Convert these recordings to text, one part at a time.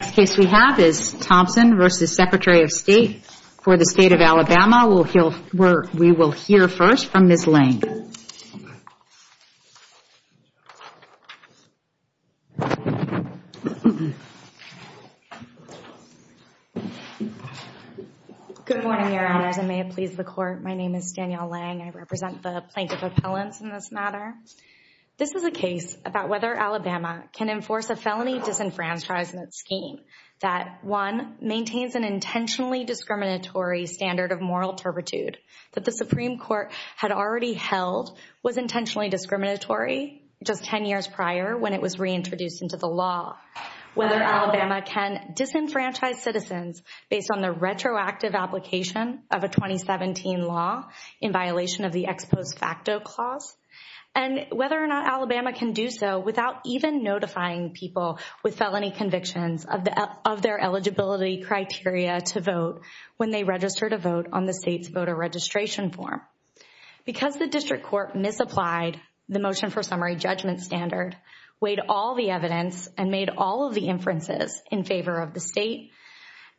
The next case we have is Thompson v. Secretary of State for the State of Alabama. We will hear first from Ms. Lange. Good morning, Your Honors, and may it please the Court, my name is Danielle Lange. I represent the Plaintiff Appellants in this matter. This is a case about whether Alabama can enforce a felony disenfranchisement scheme that, one, maintains an intentionally discriminatory standard of moral turpitude that the Supreme Court had already held was intentionally discriminatory just ten years prior when it was reintroduced into the law, whether Alabama can disenfranchise citizens based on the retroactive application of a 2017 law in violation of the ex post facto clause, and whether or not Alabama can do so without even notifying people with felony convictions of their eligibility criteria to vote when they register to vote on the state's voter registration form. Because the district court misapplied the motion for summary judgment standard, weighed all the evidence, and made all of the inferences in favor of the state,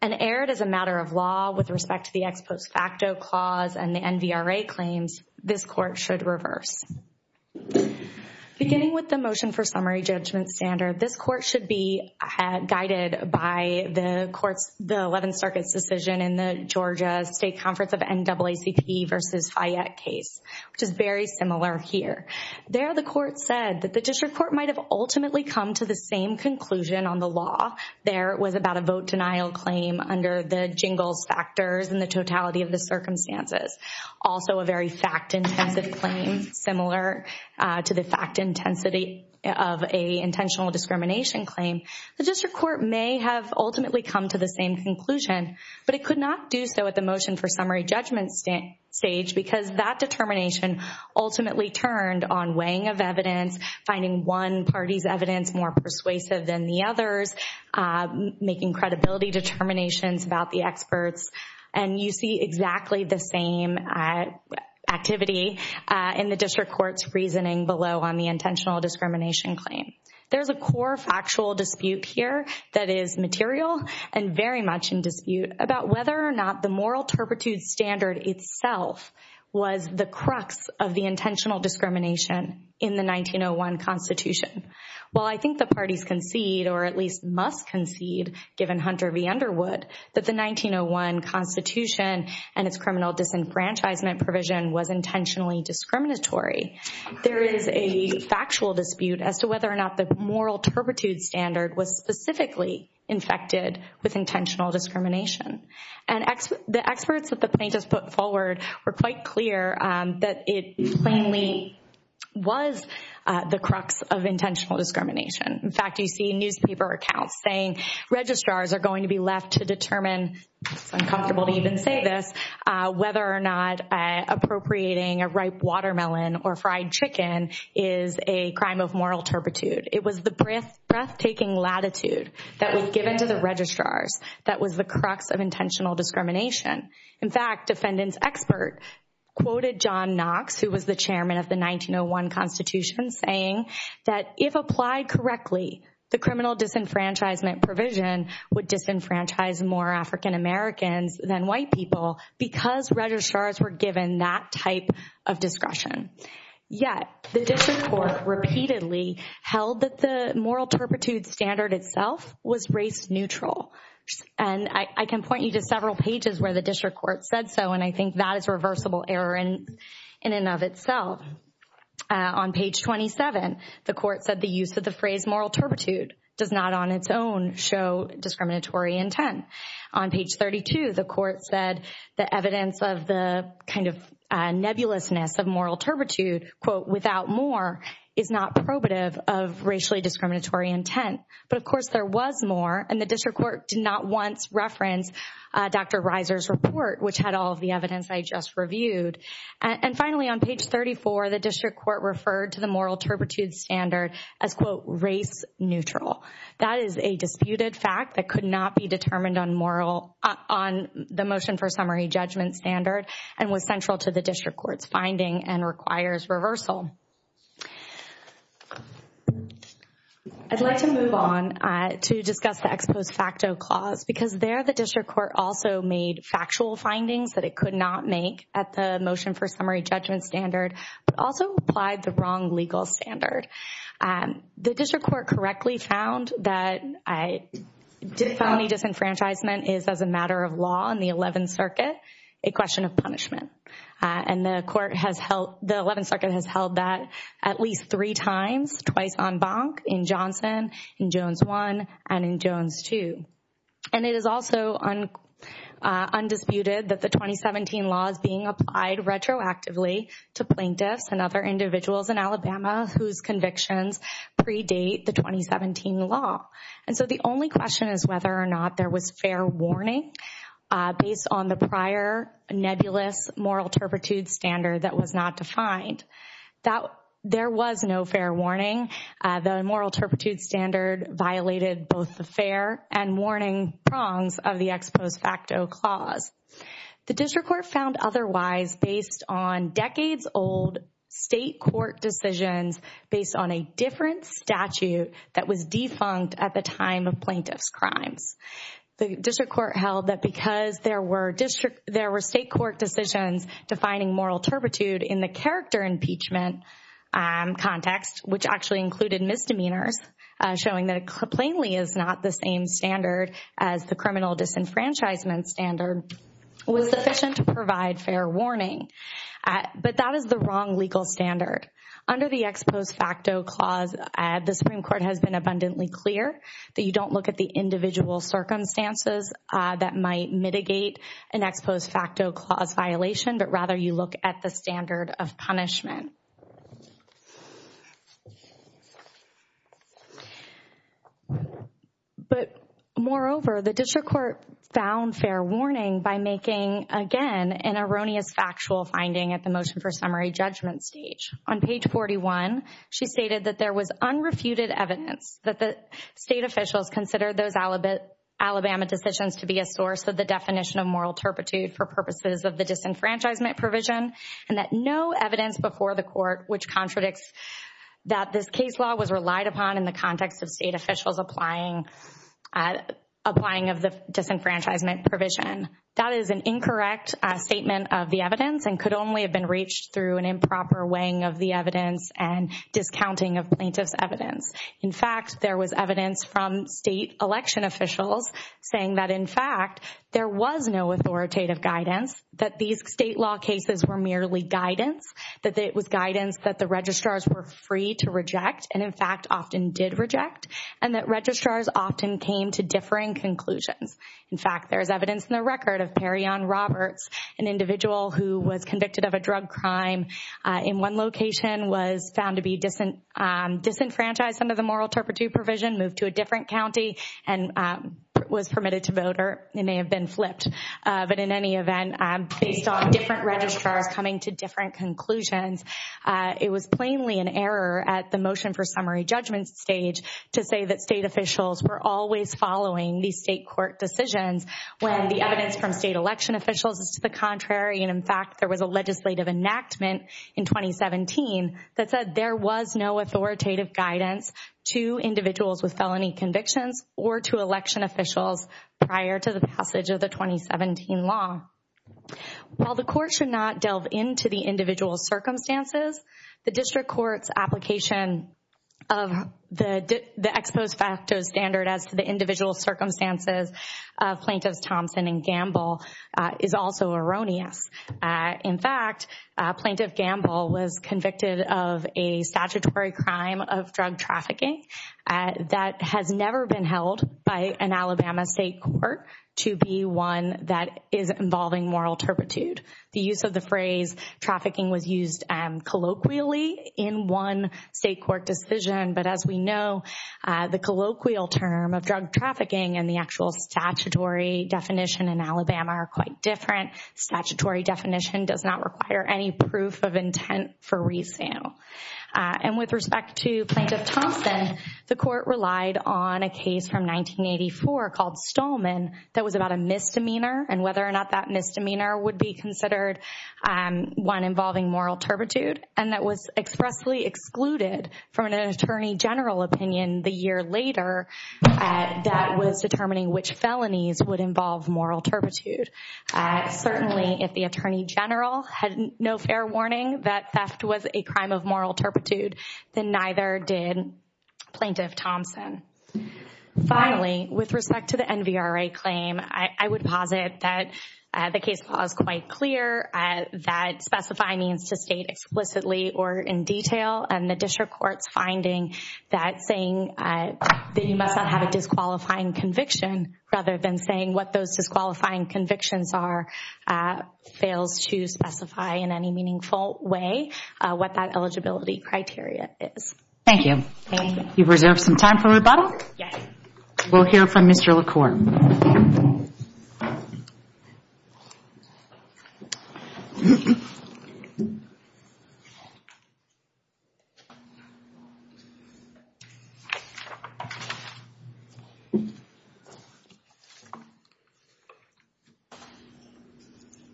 and erred as a matter of law with respect to the ex post facto clause and the NVRA claims, this Court should reverse. Beginning with the motion for summary judgment standard, this Court should be guided by the 11th Circuit's decision in the Georgia State Conference of NAACP v. Fayette case, which is very similar here. There, the Court said that the district court might have ultimately come to the same conclusion on the law. There, it was about a vote denial claim under the totality of the circumstances. Also, a very fact-intensive claim, similar to the fact intensity of an intentional discrimination claim. The district court may have ultimately come to the same conclusion, but it could not do so at the motion for summary judgment stage because that determination ultimately turned on weighing of evidence, finding one party's evidence more persuasive than the other's, making credibility determinations about the experts, and you see exactly the same activity in the district court's reasoning below on the intentional discrimination claim. There's a core factual dispute here that is material and very much in dispute about whether or not the moral turpitude standard itself was the crux of the intentional discrimination in the 1901 Constitution. While I think the 1901 Constitution and its criminal disenfranchisement provision was intentionally discriminatory, there is a factual dispute as to whether or not the moral turpitude standard was specifically infected with intentional discrimination. And the experts that the plaintiffs put forward were quite clear that it plainly was the crux of intentional discrimination. In fact, you see newspaper accounts saying registrars are going to be left to determine, it's uncomfortable to even say this, whether or not appropriating a ripe watermelon or fried chicken is a crime of moral turpitude. It was the breathtaking latitude that was given to the registrars that was the crux of intentional discrimination. In fact, defendant's expert quoted John Knox, who was the chairman of the 1901 Constitution, saying that if applied correctly, the criminal disenfranchisement provision would disenfranchise more African Americans than white people because registrars were given that type of discretion. Yet, the district court repeatedly held that the moral turpitude standard itself was race neutral. And I can point you to several pages where the district court said so, and I think that is a reversible error in and of itself. On page 27, the court said the use of the phrase moral turpitude does not on its own show discriminatory intent. On page 32, the court said the evidence of the kind of nebulousness of moral turpitude, quote, without more, is not probative of racially discriminatory intent. But of course, there was more, and the district court did not once reference Dr. Reiser's report, which had all of the evidence I just reviewed. And finally, on page 34, the district court referred to the moral turpitude standard as, quote, race neutral. That is a disputed fact that could not be determined on the motion for summary judgment standard and was central to the district court's finding and requires reversal. I'd like to move on to discuss the ex post facto clause, because there the district court also made factual findings that it could not make at the motion for summary judgment standard, but also applied the wrong legal standard. The district court correctly found that felony disenfranchisement is, as a matter of law in the 11th Circuit, a question of punishment. And the 11th Circuit has held that at least three times, twice on Bonk, in Johnson, in Jones 1, and in Jones 2. And it is also undisputed that the 2017 law is being applied retroactively to plaintiffs and other individuals in Alabama whose convictions predate the 2017 law. And so the only question is whether or not there was fair warning based on the prior nebulous moral turpitude standard that was not defined. There was no fair warning. The moral turpitude standard violated both the fair and warning prongs of the ex post facto clause. The district court found otherwise based on decades old state court decisions based on a different statute that was defunct at the time of plaintiff's crimes. The district court held that because there were state court decisions defining moral turpitude in the character impeachment context, which actually included misdemeanors, showing that it plainly is not the same standard as the criminal disenfranchisement standard, was sufficient to provide fair warning. But that is the wrong legal standard. Under the ex post facto clause, the Supreme Court has been abundantly clear that you don't look at the individual circumstances that might mitigate an ex post facto clause violation, but rather you look at the standard of punishment. But moreover, the district court found fair warning by making, again, an erroneous factual finding at the motion for summary judgment stage. On page 41, she stated that there was unrefuted evidence that the state officials considered those Alabama decisions to be a source of the definition of moral turpitude for purposes of the disenfranchisement provision and that no evidence before the court which contradicts that this case law was relied upon in the context of state officials applying of the disenfranchisement provision. That is an incorrect statement of the evidence and could only have been reached through an evidence. In fact, there was evidence from state election officials saying that, in fact, there was no authoritative guidance, that these state law cases were merely guidance, that it was guidance that the registrars were free to reject and, in fact, often did reject, and that registrars often came to differing conclusions. In fact, there is evidence in the record of Perrion Roberts, an individual who was convicted of a drug crime in one location was found to be disenfranchised under the moral turpitude provision, moved to a different county and was permitted to vote or may have been flipped. But in any event, based on different registrars coming to different conclusions, it was plainly an error at the motion for summary judgment stage to say that state officials were always following the state court decisions when the evidence from state election officials is to the contrary and, in fact, there was a legislative enactment in 2017 that said there was no authoritative guidance to individuals with felony convictions or to election officials prior to the passage of the 2017 law. While the court should not delve into the individual's circumstances, the district court's application of the ex post facto standard as to the individual's circumstances of Plaintiffs Thompson and Gamble is also erroneous. In fact, Plaintiff Gamble was convicted of a statutory crime of drug trafficking that has never been held by an Alabama state court to be one that is involving moral turpitude. The use of the phrase trafficking was used colloquially in one state court decision, but as we know, the colloquial term of drug trafficking and the actual statutory definition in Alabama are quite different. Statutory definition does not require any proof of intent for resale. And with respect to Plaintiff Thompson, the court relied on a case from 1984 called Stolman that was about a misdemeanor and whether or not that misdemeanor would be considered one involving moral turpitude and that was expressly excluded from an attorney general opinion the year later that was determining which felonies would involve moral turpitude. Certainly, if the attorney general had no fair warning that theft was a crime of moral turpitude, then neither did Plaintiff Thompson. Finally, with respect to the NVRA claim, I would posit that the case law is quite clear, that specified means to state explicitly or in detail, and the district court's finding that saying that you must not have a disqualifying conviction rather than saying what those disqualifying convictions are fails to specify in any meaningful way what that eligibility criteria is. Thank you. Thank you. You've reserved some time for rebuttal? Yes. We'll hear from Mr. LaCour.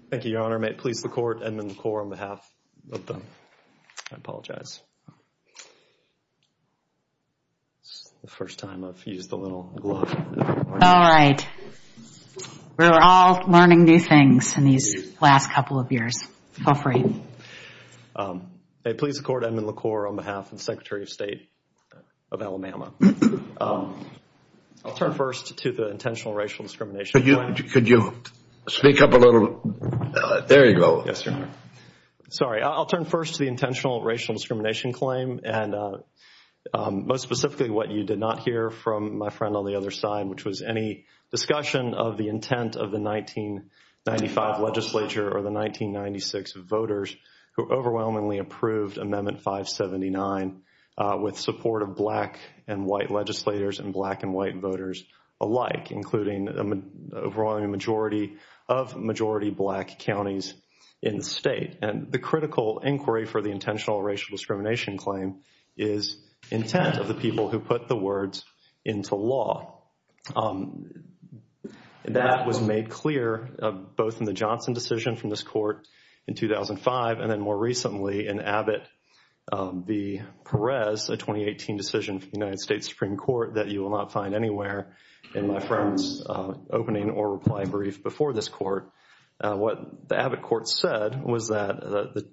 Thank you, Your Honor. May it please the court, Edmund LaCour on behalf of the, I apologize. It's the first time I've used the little glove. All right. We're all learning new things in these last couple of years. Feel free. May it please the court, Edmund LaCour on behalf of the Secretary of State of Alabama. I'll turn first to the intentional racial discrimination. Could you speak up a little? There you go. Sorry. I'll turn first to the intentional racial discrimination claim and most specifically what you did not hear from my friend on the other side, which was any discussion of the intent of the 1995 legislature or the 1996 voters who overwhelmingly approved Amendment 579 with support of black and white legislators and black and white voters alike, including a majority of majority black counties in the state. And the critical inquiry for the intentional racial discrimination claim is intent of the people who put the words into law. That was made clear both in the Johnson decision from this court in 2005 and then more recently in Abbott v. Perez, a 2018 decision from the United States Supreme Court that you will not find anywhere in my friend's opening or reply brief before this court. What the Abbott court said was that the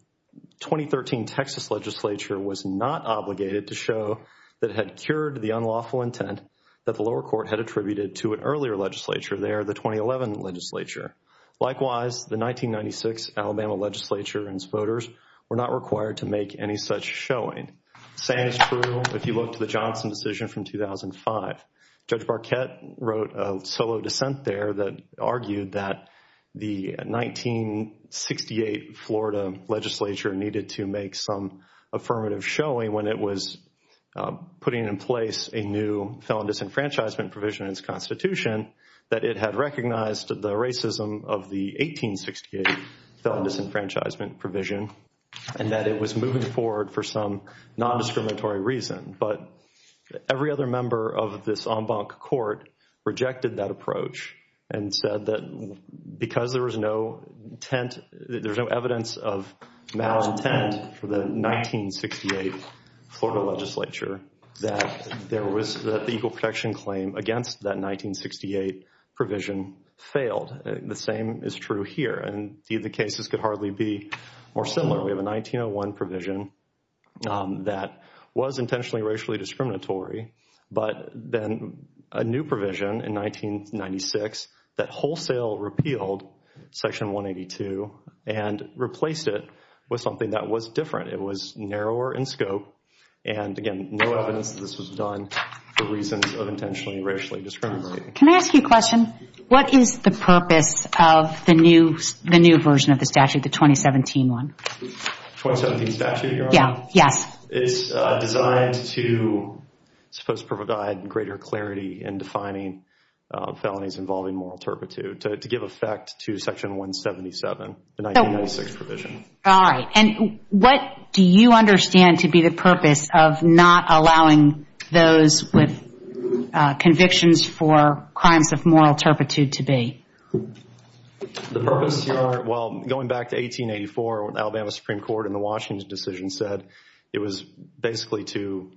2013 Texas legislature was not obligated to show that it had cured the unlawful intent that the lower court had attributed to an earlier legislature there, the 2011 legislature. Likewise, the 1996 Alabama legislature and its voters were not required to make any such showing. Same is true if you look to the Johnson decision from 2005. Judge Barquette wrote a solo dissent there that argued that the 1968 Florida legislature needed to make some affirmative showing when it was putting in place a new felon disenfranchisement provision in its constitution that it had recognized the racism of the 1868 felon disenfranchisement provision and that it was moving forward for some non-discriminatory reason. But every other member of this en banc court rejected that approach and said that because there was no evidence of malintent for the 1968 Florida legislature that the equal protection claim against that 1968 provision failed. The same is true here and the cases could hardly be more similar. We have a 1901 provision that was intentionally racially discriminatory but then a new provision in 1996 that wholesale repealed Section 182 and replaced it with something that was different. It was narrower in scope and again, no evidence that this was done for reasons of intentionally racially discriminatory. Can I ask you a question? What is the purpose of the new version of the statute, the 2017 one? The 2017 statute, Your Honor? Yes. It's designed to provide greater clarity in defining felonies involving moral turpitude to give effect to Section 177, the 1996 provision. All right. What do you understand to be the purpose of not allowing those with convictions for crimes of moral turpitude to be? The purpose, Your Honor, well, going back to 1884 when Alabama Supreme Court in the Washington decision said it was basically to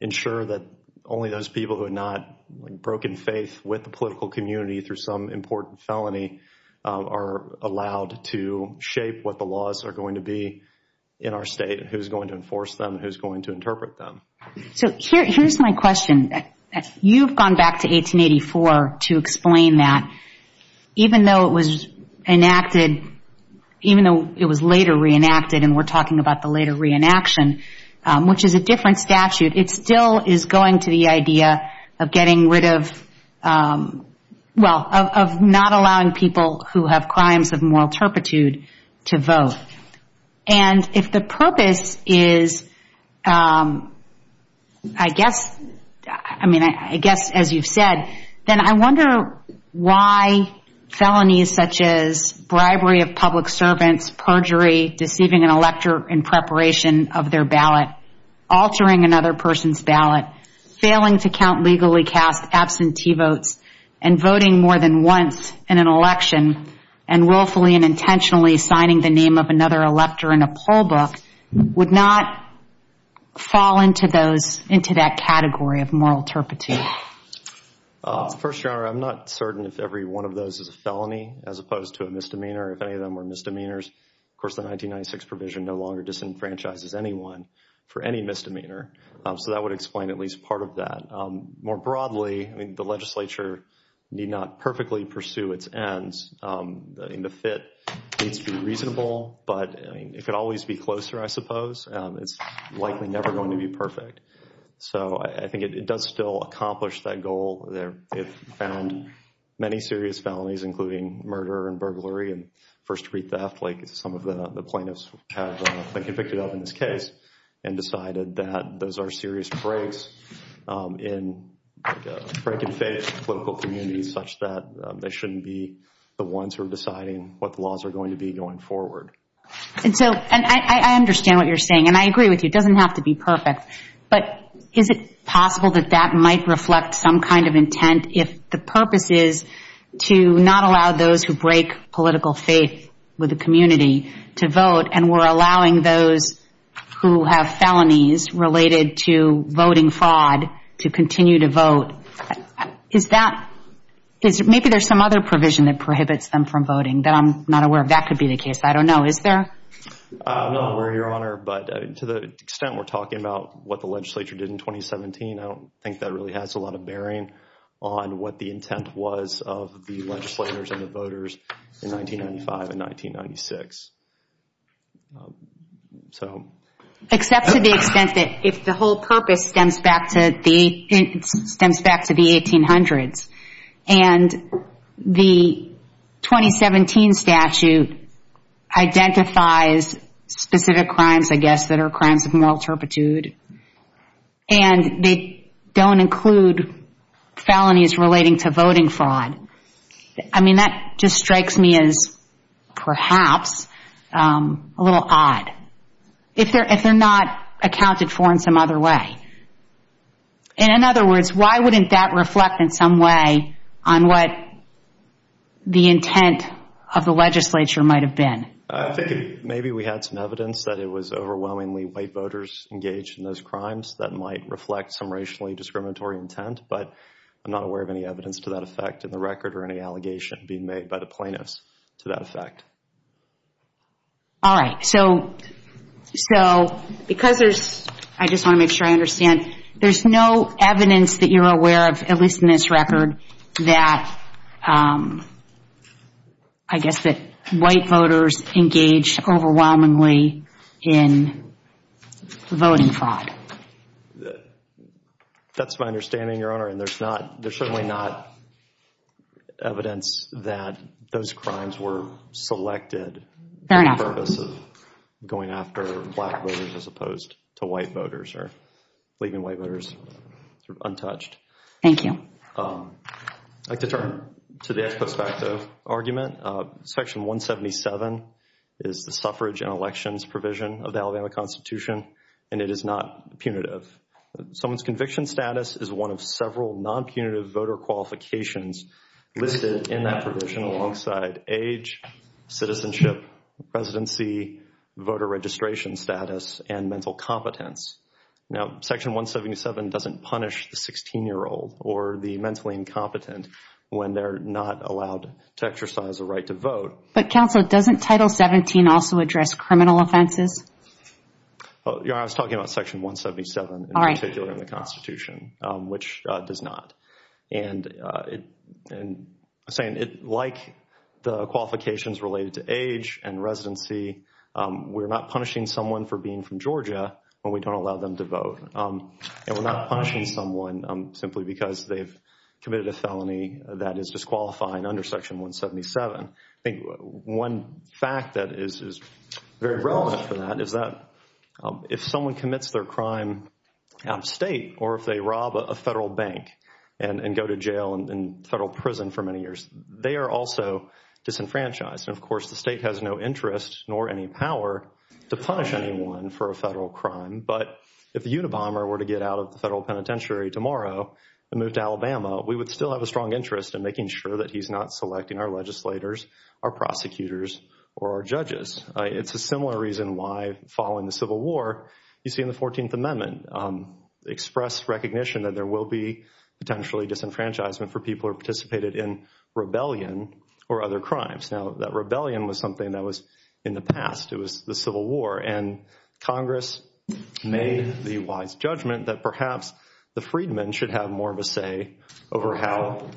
ensure that only those people who had not broken faith with the political community through some important felony are allowed to shape what the laws are going to be in our state and who's going to enforce them and who's going to interpret them. So here's my question. You've gone back to 1884 to explain that even though it was later reenacted and we're talking about the later reenaction, which is a different statute, it still is going to the idea of getting rid of, well, of not allowing people who have crimes of moral turpitude to vote. And if the purpose is, I guess, I mean, I guess as you've said, then I wonder why felonies such as bribery of public servants, perjury, deceiving an elector in preparation of their ballot, altering another person's ballot, failing to count legally cast absentee votes, and voting more than once in an election and willfully and intentionally signing the name of another elector in a poll book would not fall into those, into that category of moral turpitude. First, Your Honor, I'm not certain if every one of those is a felony as opposed to a misdemeanor. If any of them were misdemeanors, of course, the 1996 provision no longer disenfranchises anyone for any misdemeanor. So that would explain at least part of that. More broadly, I mean, the legislature need not perfectly pursue its ends. The fit needs to be reasonable, but it could always be closer, I suppose. It's likely never going to be perfect. So I think it does still accomplish that goal. It found many serious felonies, including murder and burglary and first-degree theft, like some of the plaintiffs have been convicted of in this case, and decided that those are serious breaks in breaking faith in political communities such that they shouldn't be the ones who are deciding what the laws are going to be going forward. And so I understand what you're saying, and I agree with you. It doesn't have to be perfect. But is it possible that that might reflect some kind of intent if the purpose is to not allow those who break political faith with the community to vote, and we're allowing those who have felonies related to voting fraud to continue to vote? Is that – maybe there's some other provision that prohibits them from voting that I'm not aware of. That could be the case. I don't know. Is there? No, Your Honor. But to the extent we're talking about what the legislature did in 2017, I don't think that really has a lot of bearing on what the intent was of the legislators and the voters in 1995 and 1996. Except to the extent that if the whole purpose stems back to the 1800s, and the 2017 statute identifies specific crimes, I guess, that are crimes of moral turpitude, and they don't include felonies relating to voting fraud, I mean, that just strikes me as perhaps a little odd, if they're not accounted for in some other way. And in other words, why wouldn't that reflect in some way on what the intent of the legislature might have been? I think maybe we had some evidence that it was overwhelmingly white voters engaged in those crimes that might reflect some racially discriminatory intent, but I'm not aware of any evidence to that effect in the record or any allegation being made by the plaintiffs to that effect. All right. So, because there's, I just want to make sure I understand, there's no evidence that you're aware of, at least in this record, that, I guess, that white voters engaged overwhelmingly in voting fraud? That's my understanding, Your Honor, and there's certainly not evidence that those crimes were selected. Fair enough. I guess that's the purpose of going after black voters as opposed to white voters, or leaving white voters untouched. Thank you. I'd like to turn to the ex post facto argument. Section 177 is the suffrage and elections provision of the Alabama Constitution, and it is not punitive. Someone's conviction status is one of several non-punitive voter qualifications listed in that provision alongside age, citizenship, residency, voter registration status, and mental competence. Now, Section 177 doesn't punish the 16-year-old or the mentally incompetent when they're not allowed to exercise a right to vote. But, counsel, doesn't Title 17 also address criminal offenses? Your Honor, I was talking about Section 177 in particular in the Constitution, which does not. And I was saying, like the qualifications related to age and residency, we're not punishing someone for being from Georgia when we don't allow them to vote, and we're not punishing someone simply because they've committed a felony that is disqualifying under Section 177. I think one fact that is very relevant for that is that if someone commits their crime out of state or if they rob a federal bank and go to jail and federal prison for many years, they are also disenfranchised. And, of course, the state has no interest nor any power to punish anyone for a federal crime. But if the Unabomber were to get out of the federal penitentiary tomorrow and move to Alabama, we would still have a strong interest in making sure that he's not selecting our legislators, our prosecutors, or our judges. It's a similar reason why, following the Civil War, you see in the 14th Amendment, express recognition that there will be potentially disenfranchisement for people who participated in rebellion or other crimes. Now, that rebellion was something that was in the past. It was the Civil War. And Congress made the wise judgment that perhaps the freedmen should have more of a say over how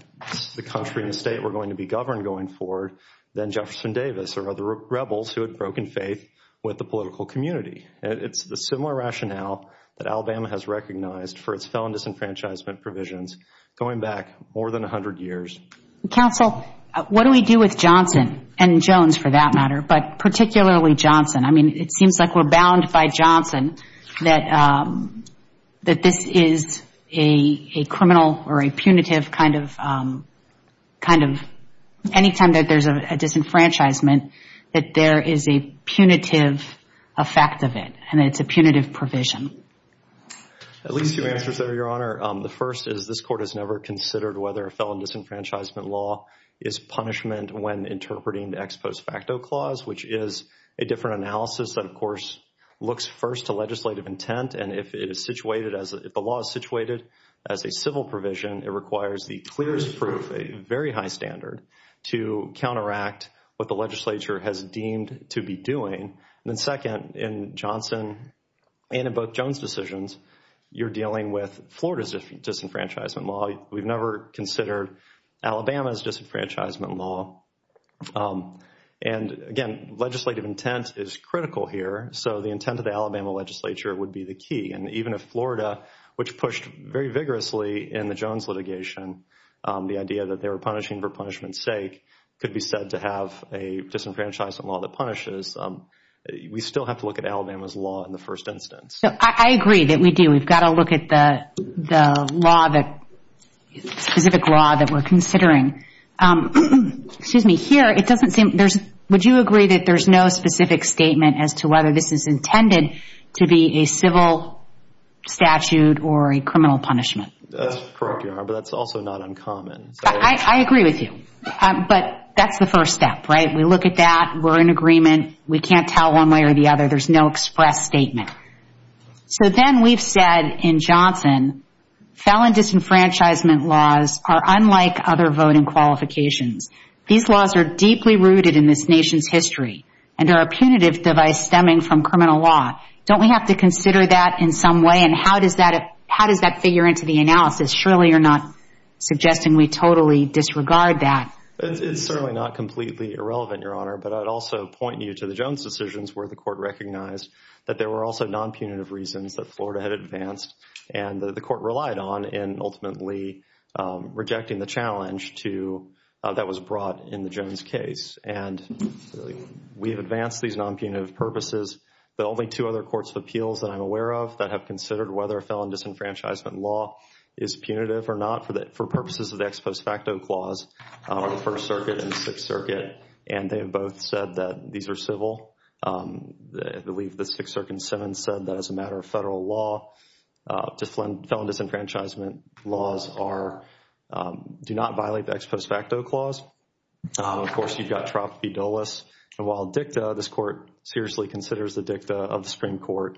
the country and the state were going to be governed going forward than Jefferson Davis or other rebels who had broken faith with the political community. It's a similar rationale that Alabama has recognized for its felon disenfranchisement provisions going back more than 100 years. Counsel, what do we do with Johnson, and Jones for that matter, but particularly Johnson? I mean, it seems like we're bound by Johnson that this is a criminal or a punitive kind of, anytime that there's a disenfranchisement, that there is a punitive effect of it. And it's a punitive provision. At least two answers there, Your Honor. The first is this Court has never considered whether a felon disenfranchisement law is punishment when interpreting the ex post facto clause, which is a different analysis that, of course, looks first to legislative intent. And if the law is situated as a civil provision, it requires the clearest proof, a very high standard, to counteract what the legislature has deemed to be doing. And then second, in Johnson and in both Jones decisions, you're dealing with Florida's disenfranchisement law. We've never considered Alabama's disenfranchisement law. And again, legislative intent is critical here. So the intent of the Alabama legislature would be the key. And even if Florida, which pushed very vigorously in the Jones litigation, the idea that they were punishing for punishment's sake, could be said to have a disenfranchisement law that punishes, we still have to look at Alabama's law in the first instance. I agree that we do. We've got to look at the specific law that we're considering. Excuse me. Here, it doesn't seem, would you agree that there's no specific statement as to whether this is intended to be a civil statute or a criminal punishment? That's correct, Your Honor, but that's also not uncommon. I agree with you. But that's the first step, right? We look at that. We're in agreement. We can't tell one way or the other. There's no express statement. So then we've said in Johnson, felon disenfranchisement laws are unlike other voting qualifications. These laws are deeply rooted in this nation's history and are a punitive device stemming from criminal law. Don't we have to consider that in some way? And how does that, how does that figure into the analysis? Surely you're not suggesting we totally disregard that. It's certainly not completely irrelevant, Your Honor, but I'd also point you to the non-punitive reasons that Florida had advanced and that the court relied on in ultimately rejecting the challenge to, that was brought in the Jones case. And we have advanced these non-punitive purposes, but only two other courts of appeals that I'm aware of that have considered whether a felon disenfranchisement law is punitive or not for purposes of the ex post facto clause are the First Circuit and the Sixth Circuit. And they have both said that these are civil. I believe the Sixth Circuit and Seventh said that as a matter of federal law, felon disenfranchisement laws are, do not violate the ex post facto clause. Of course, you've got TROP FIDELIS. And while DICTA, this court seriously considers the DICTA of the Supreme Court.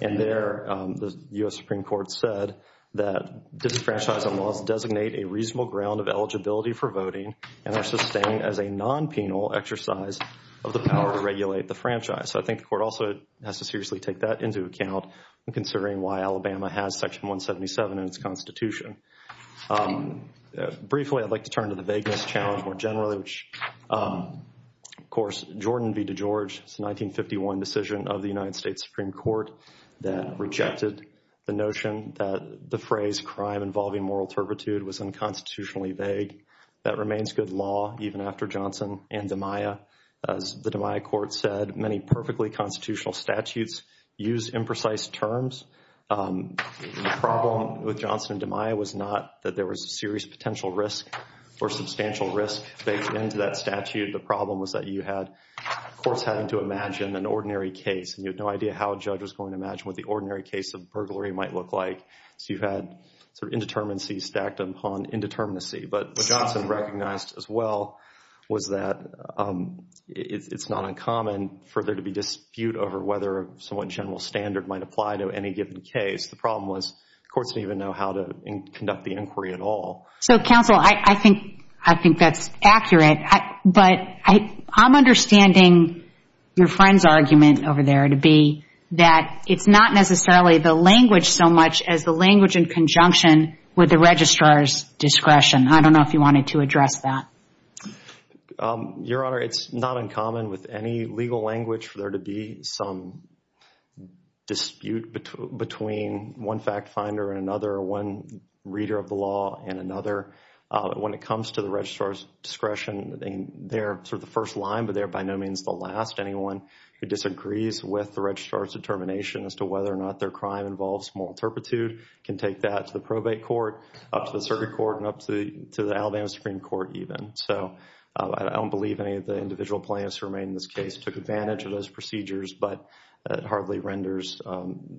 And there, the U.S. Supreme Court said that disenfranchisement laws designate a reasonable ground of eligibility for voting and are sustained as a non-penal exercise of the power to regulate the franchise. So I think the court also has to seriously take that into account in considering why Alabama has Section 177 in its constitution. Briefly, I'd like to turn to the vagueness challenge more generally, which of course, Jordan v. DeGeorge, it's a 1951 decision of the United States Supreme Court that rejected the notion that the phrase crime involving moral turpitude was unconstitutionally vague. That remains good law even after Johnson and DiMaia. As the DiMaia court said, many perfectly constitutional statutes use imprecise terms. The problem with Johnson and DiMaia was not that there was serious potential risk or substantial risk baked into that statute. The problem was that you had courts having to imagine an ordinary case and you had no idea how a judge was going to imagine what the ordinary case of burglary might look like. So you had sort of indeterminacy stacked upon indeterminacy. But what Johnson recognized as well was that it's not uncommon for there to be dispute over whether a somewhat general standard might apply to any given case. The problem was courts didn't even know how to conduct the inquiry at all. So counsel, I think that's accurate. But I'm understanding your friend's argument over there to be that it's not necessarily the language so much as the language in conjunction with the registrar's discretion. I don't know if you wanted to address that. Your Honor, it's not uncommon with any legal language for there to be some dispute between one fact finder and another, one reader of the law and another. When it comes to the registrar's discretion, they're sort of the first line but they're by no means the last. Anyone who disagrees with the registrar's determination as to whether or not their crime involves small turpitude can take that to the probate court, up to the circuit court and up to the Alabama Supreme Court even. I don't believe any of the individual plaintiffs who remain in this case took advantage of those procedures but it hardly renders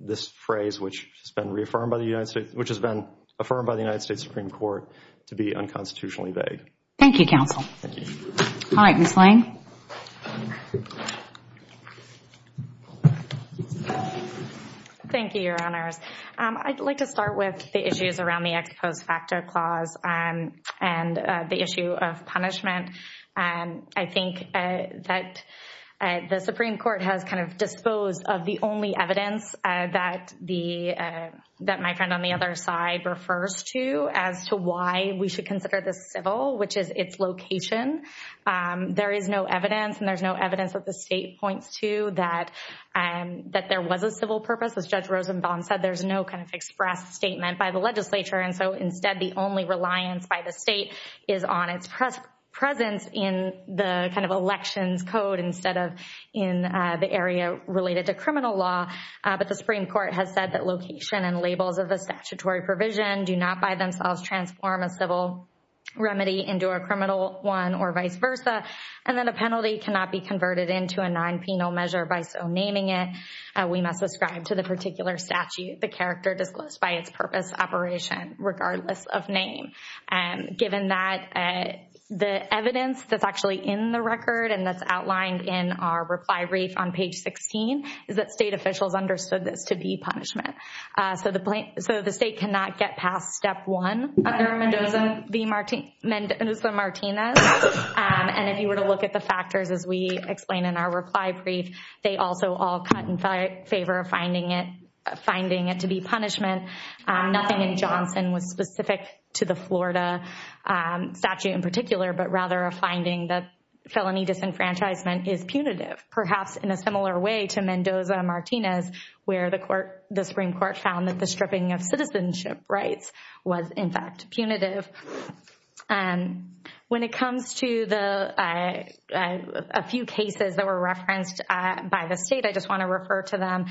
this phrase which has been reaffirmed by the United States, which has been affirmed by the United States Supreme Court to be unconstitutionally vague. Thank you, counsel. Thank you. All right, Ms. Lang. Thank you, Your Honors. I'd like to start with the issues around the ex post facto clause and the issue of punishment. I think that the Supreme Court has kind of disposed of the only evidence that my friend on the other side refers to as to why we should consider this civil, which is its location. There is no evidence and there's no evidence that the state points to that there was a civil purpose. As Judge Rosenbaum said, there's no kind of expressed statement by the legislature and so instead the only reliance by the state is on its presence in the kind of elections code instead of in the area related to criminal law. But the Supreme Court has said that location and labels of the statutory provision do not transform a civil remedy into a criminal one or vice versa and that a penalty cannot be converted into a non-penal measure by so naming it. We must ascribe to the particular statute the character disclosed by its purpose operation regardless of name. Given that, the evidence that's actually in the record and that's outlined in our reply brief on page 16 is that state officials understood this to be punishment. So the state cannot get past step one under Mendoza-Martinez. And if you were to look at the factors as we explain in our reply brief, they also all cut in favor of finding it to be punishment. Nothing in Johnson was specific to the Florida statute in particular but rather a finding that felony disenfranchisement is punitive. Perhaps in a similar way to Mendoza-Martinez where the Supreme Court found that the stripping of citizenship rights was in fact punitive. When it comes to a few cases that were referenced by the state, I just want to refer to them.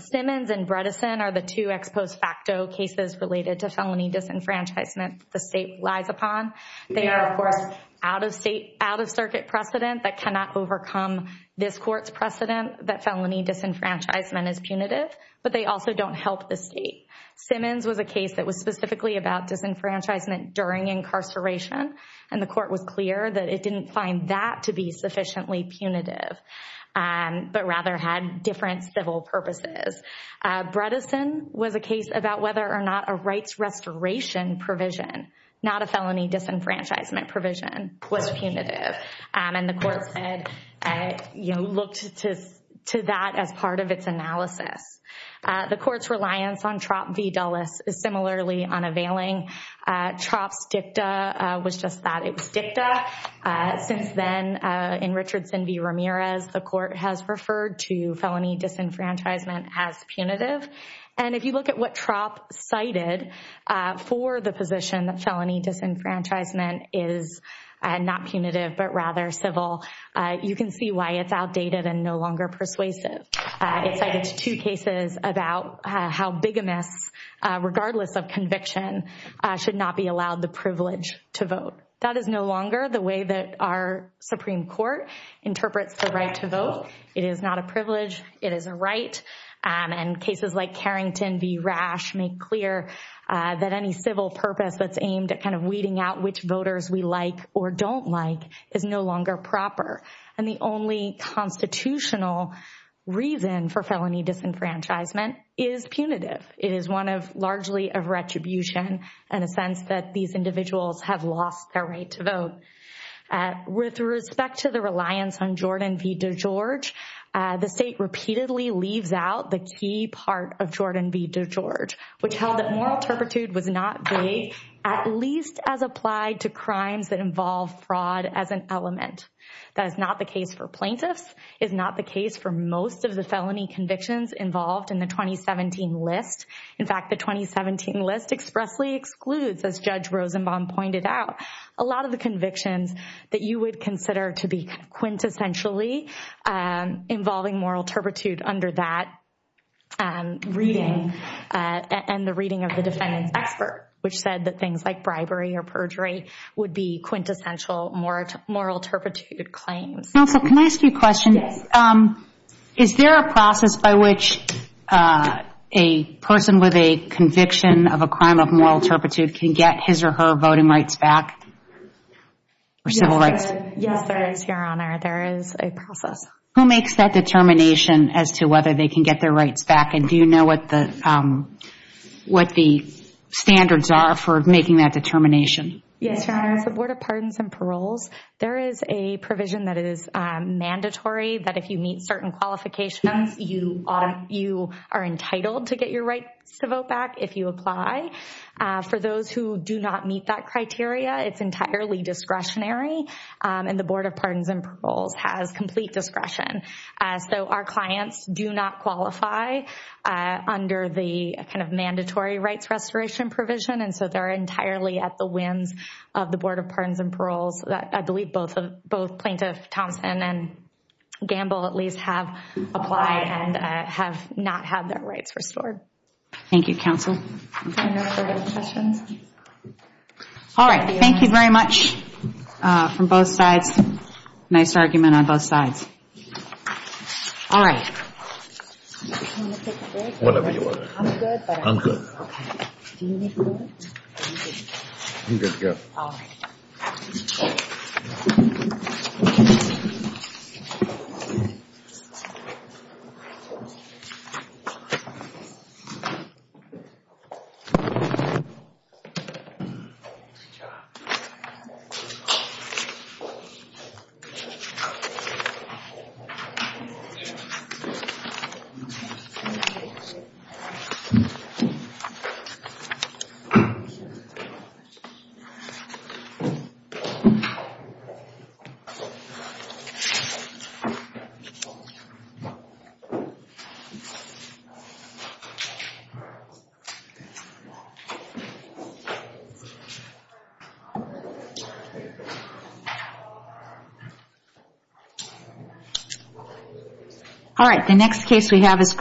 Simmons and Bredesen are the two ex post facto cases related to felony disenfranchisement the state lies upon. They are of course out of state, out of circuit precedent that cannot overcome this court's precedent that felony disenfranchisement is punitive but they also don't help the state. Simmons was a case that was specifically about disenfranchisement during incarceration and the court was clear that it didn't find that to be sufficiently punitive but rather had different civil purposes. Bredesen was a case about whether or not a rights restoration provision, not a felony disenfranchisement provision, was punitive and the court said, looked to that as part of its analysis. The court's reliance on TROP v. Dulles is similarly unavailing. TROP's dicta was just that, it was dicta. Since then in Richardson v. Ramirez the court has referred to felony disenfranchisement as punitive and if you look at what TROP cited for the position that felony disenfranchisement is not punitive but rather civil, you can see why it's outdated and no longer persuasive. It cited two cases about how bigamists, regardless of conviction, should not be allowed the privilege to vote. That is no longer the way that our Supreme Court interprets the right to vote. It is not a privilege, it is a right. And cases like Carrington v. Rash make clear that any civil purpose that's aimed at kind of weeding out which voters we like or don't like is no longer proper. And the only constitutional reason for felony disenfranchisement is punitive. It is one of largely a retribution in a sense that these individuals have lost their right to vote. With respect to the reliance on Jordan v. DeGeorge, the state repeatedly leaves out the key part of Jordan v. DeGeorge, which held that moral turpitude was not big, at least as applied to crimes that involve fraud as an element. That is not the case for plaintiffs, is not the case for most of the felony convictions involved in the 2017 list. In fact, the 2017 list expressly excludes, as Judge Rosenbaum pointed out, a lot of the convictions that you would consider to be quintessentially involving moral turpitude under that reading and the reading of the defendant's expert, which said that things like bribery or perjury would be quintessential moral turpitude claims. Counsel, can I ask you a question? Yes. Is there a process by which a person with a conviction of a crime of moral turpitude can get his or her voting rights back or civil rights? Yes, there is, Your Honor. There is a process. Who makes that determination as to whether they can get their rights back? And do you know what the standards are for making that determination? Yes, Your Honor. The Board of Pardons and Paroles, there is a provision that is mandatory that if you meet certain qualifications, you are entitled to get your rights to vote back if you apply. For those who do not meet that criteria, it is entirely discretionary and the Board of Pardons and Paroles has complete discretion. So our clients do not qualify under the kind of mandatory rights restoration provision and so they are entirely at the whims of the Board of Pardons and Paroles. I believe both Plaintiff Thompson and Gamble at least have applied and have not had their rights restored. Thank you, Counsel. All right. Thank you very much from both sides. Nice argument on both sides. All right. Whatever you want to do. I'm good. I'm good. Okay. Do you need food? I'm good to go. All right. Good job. All right. The next case we have is...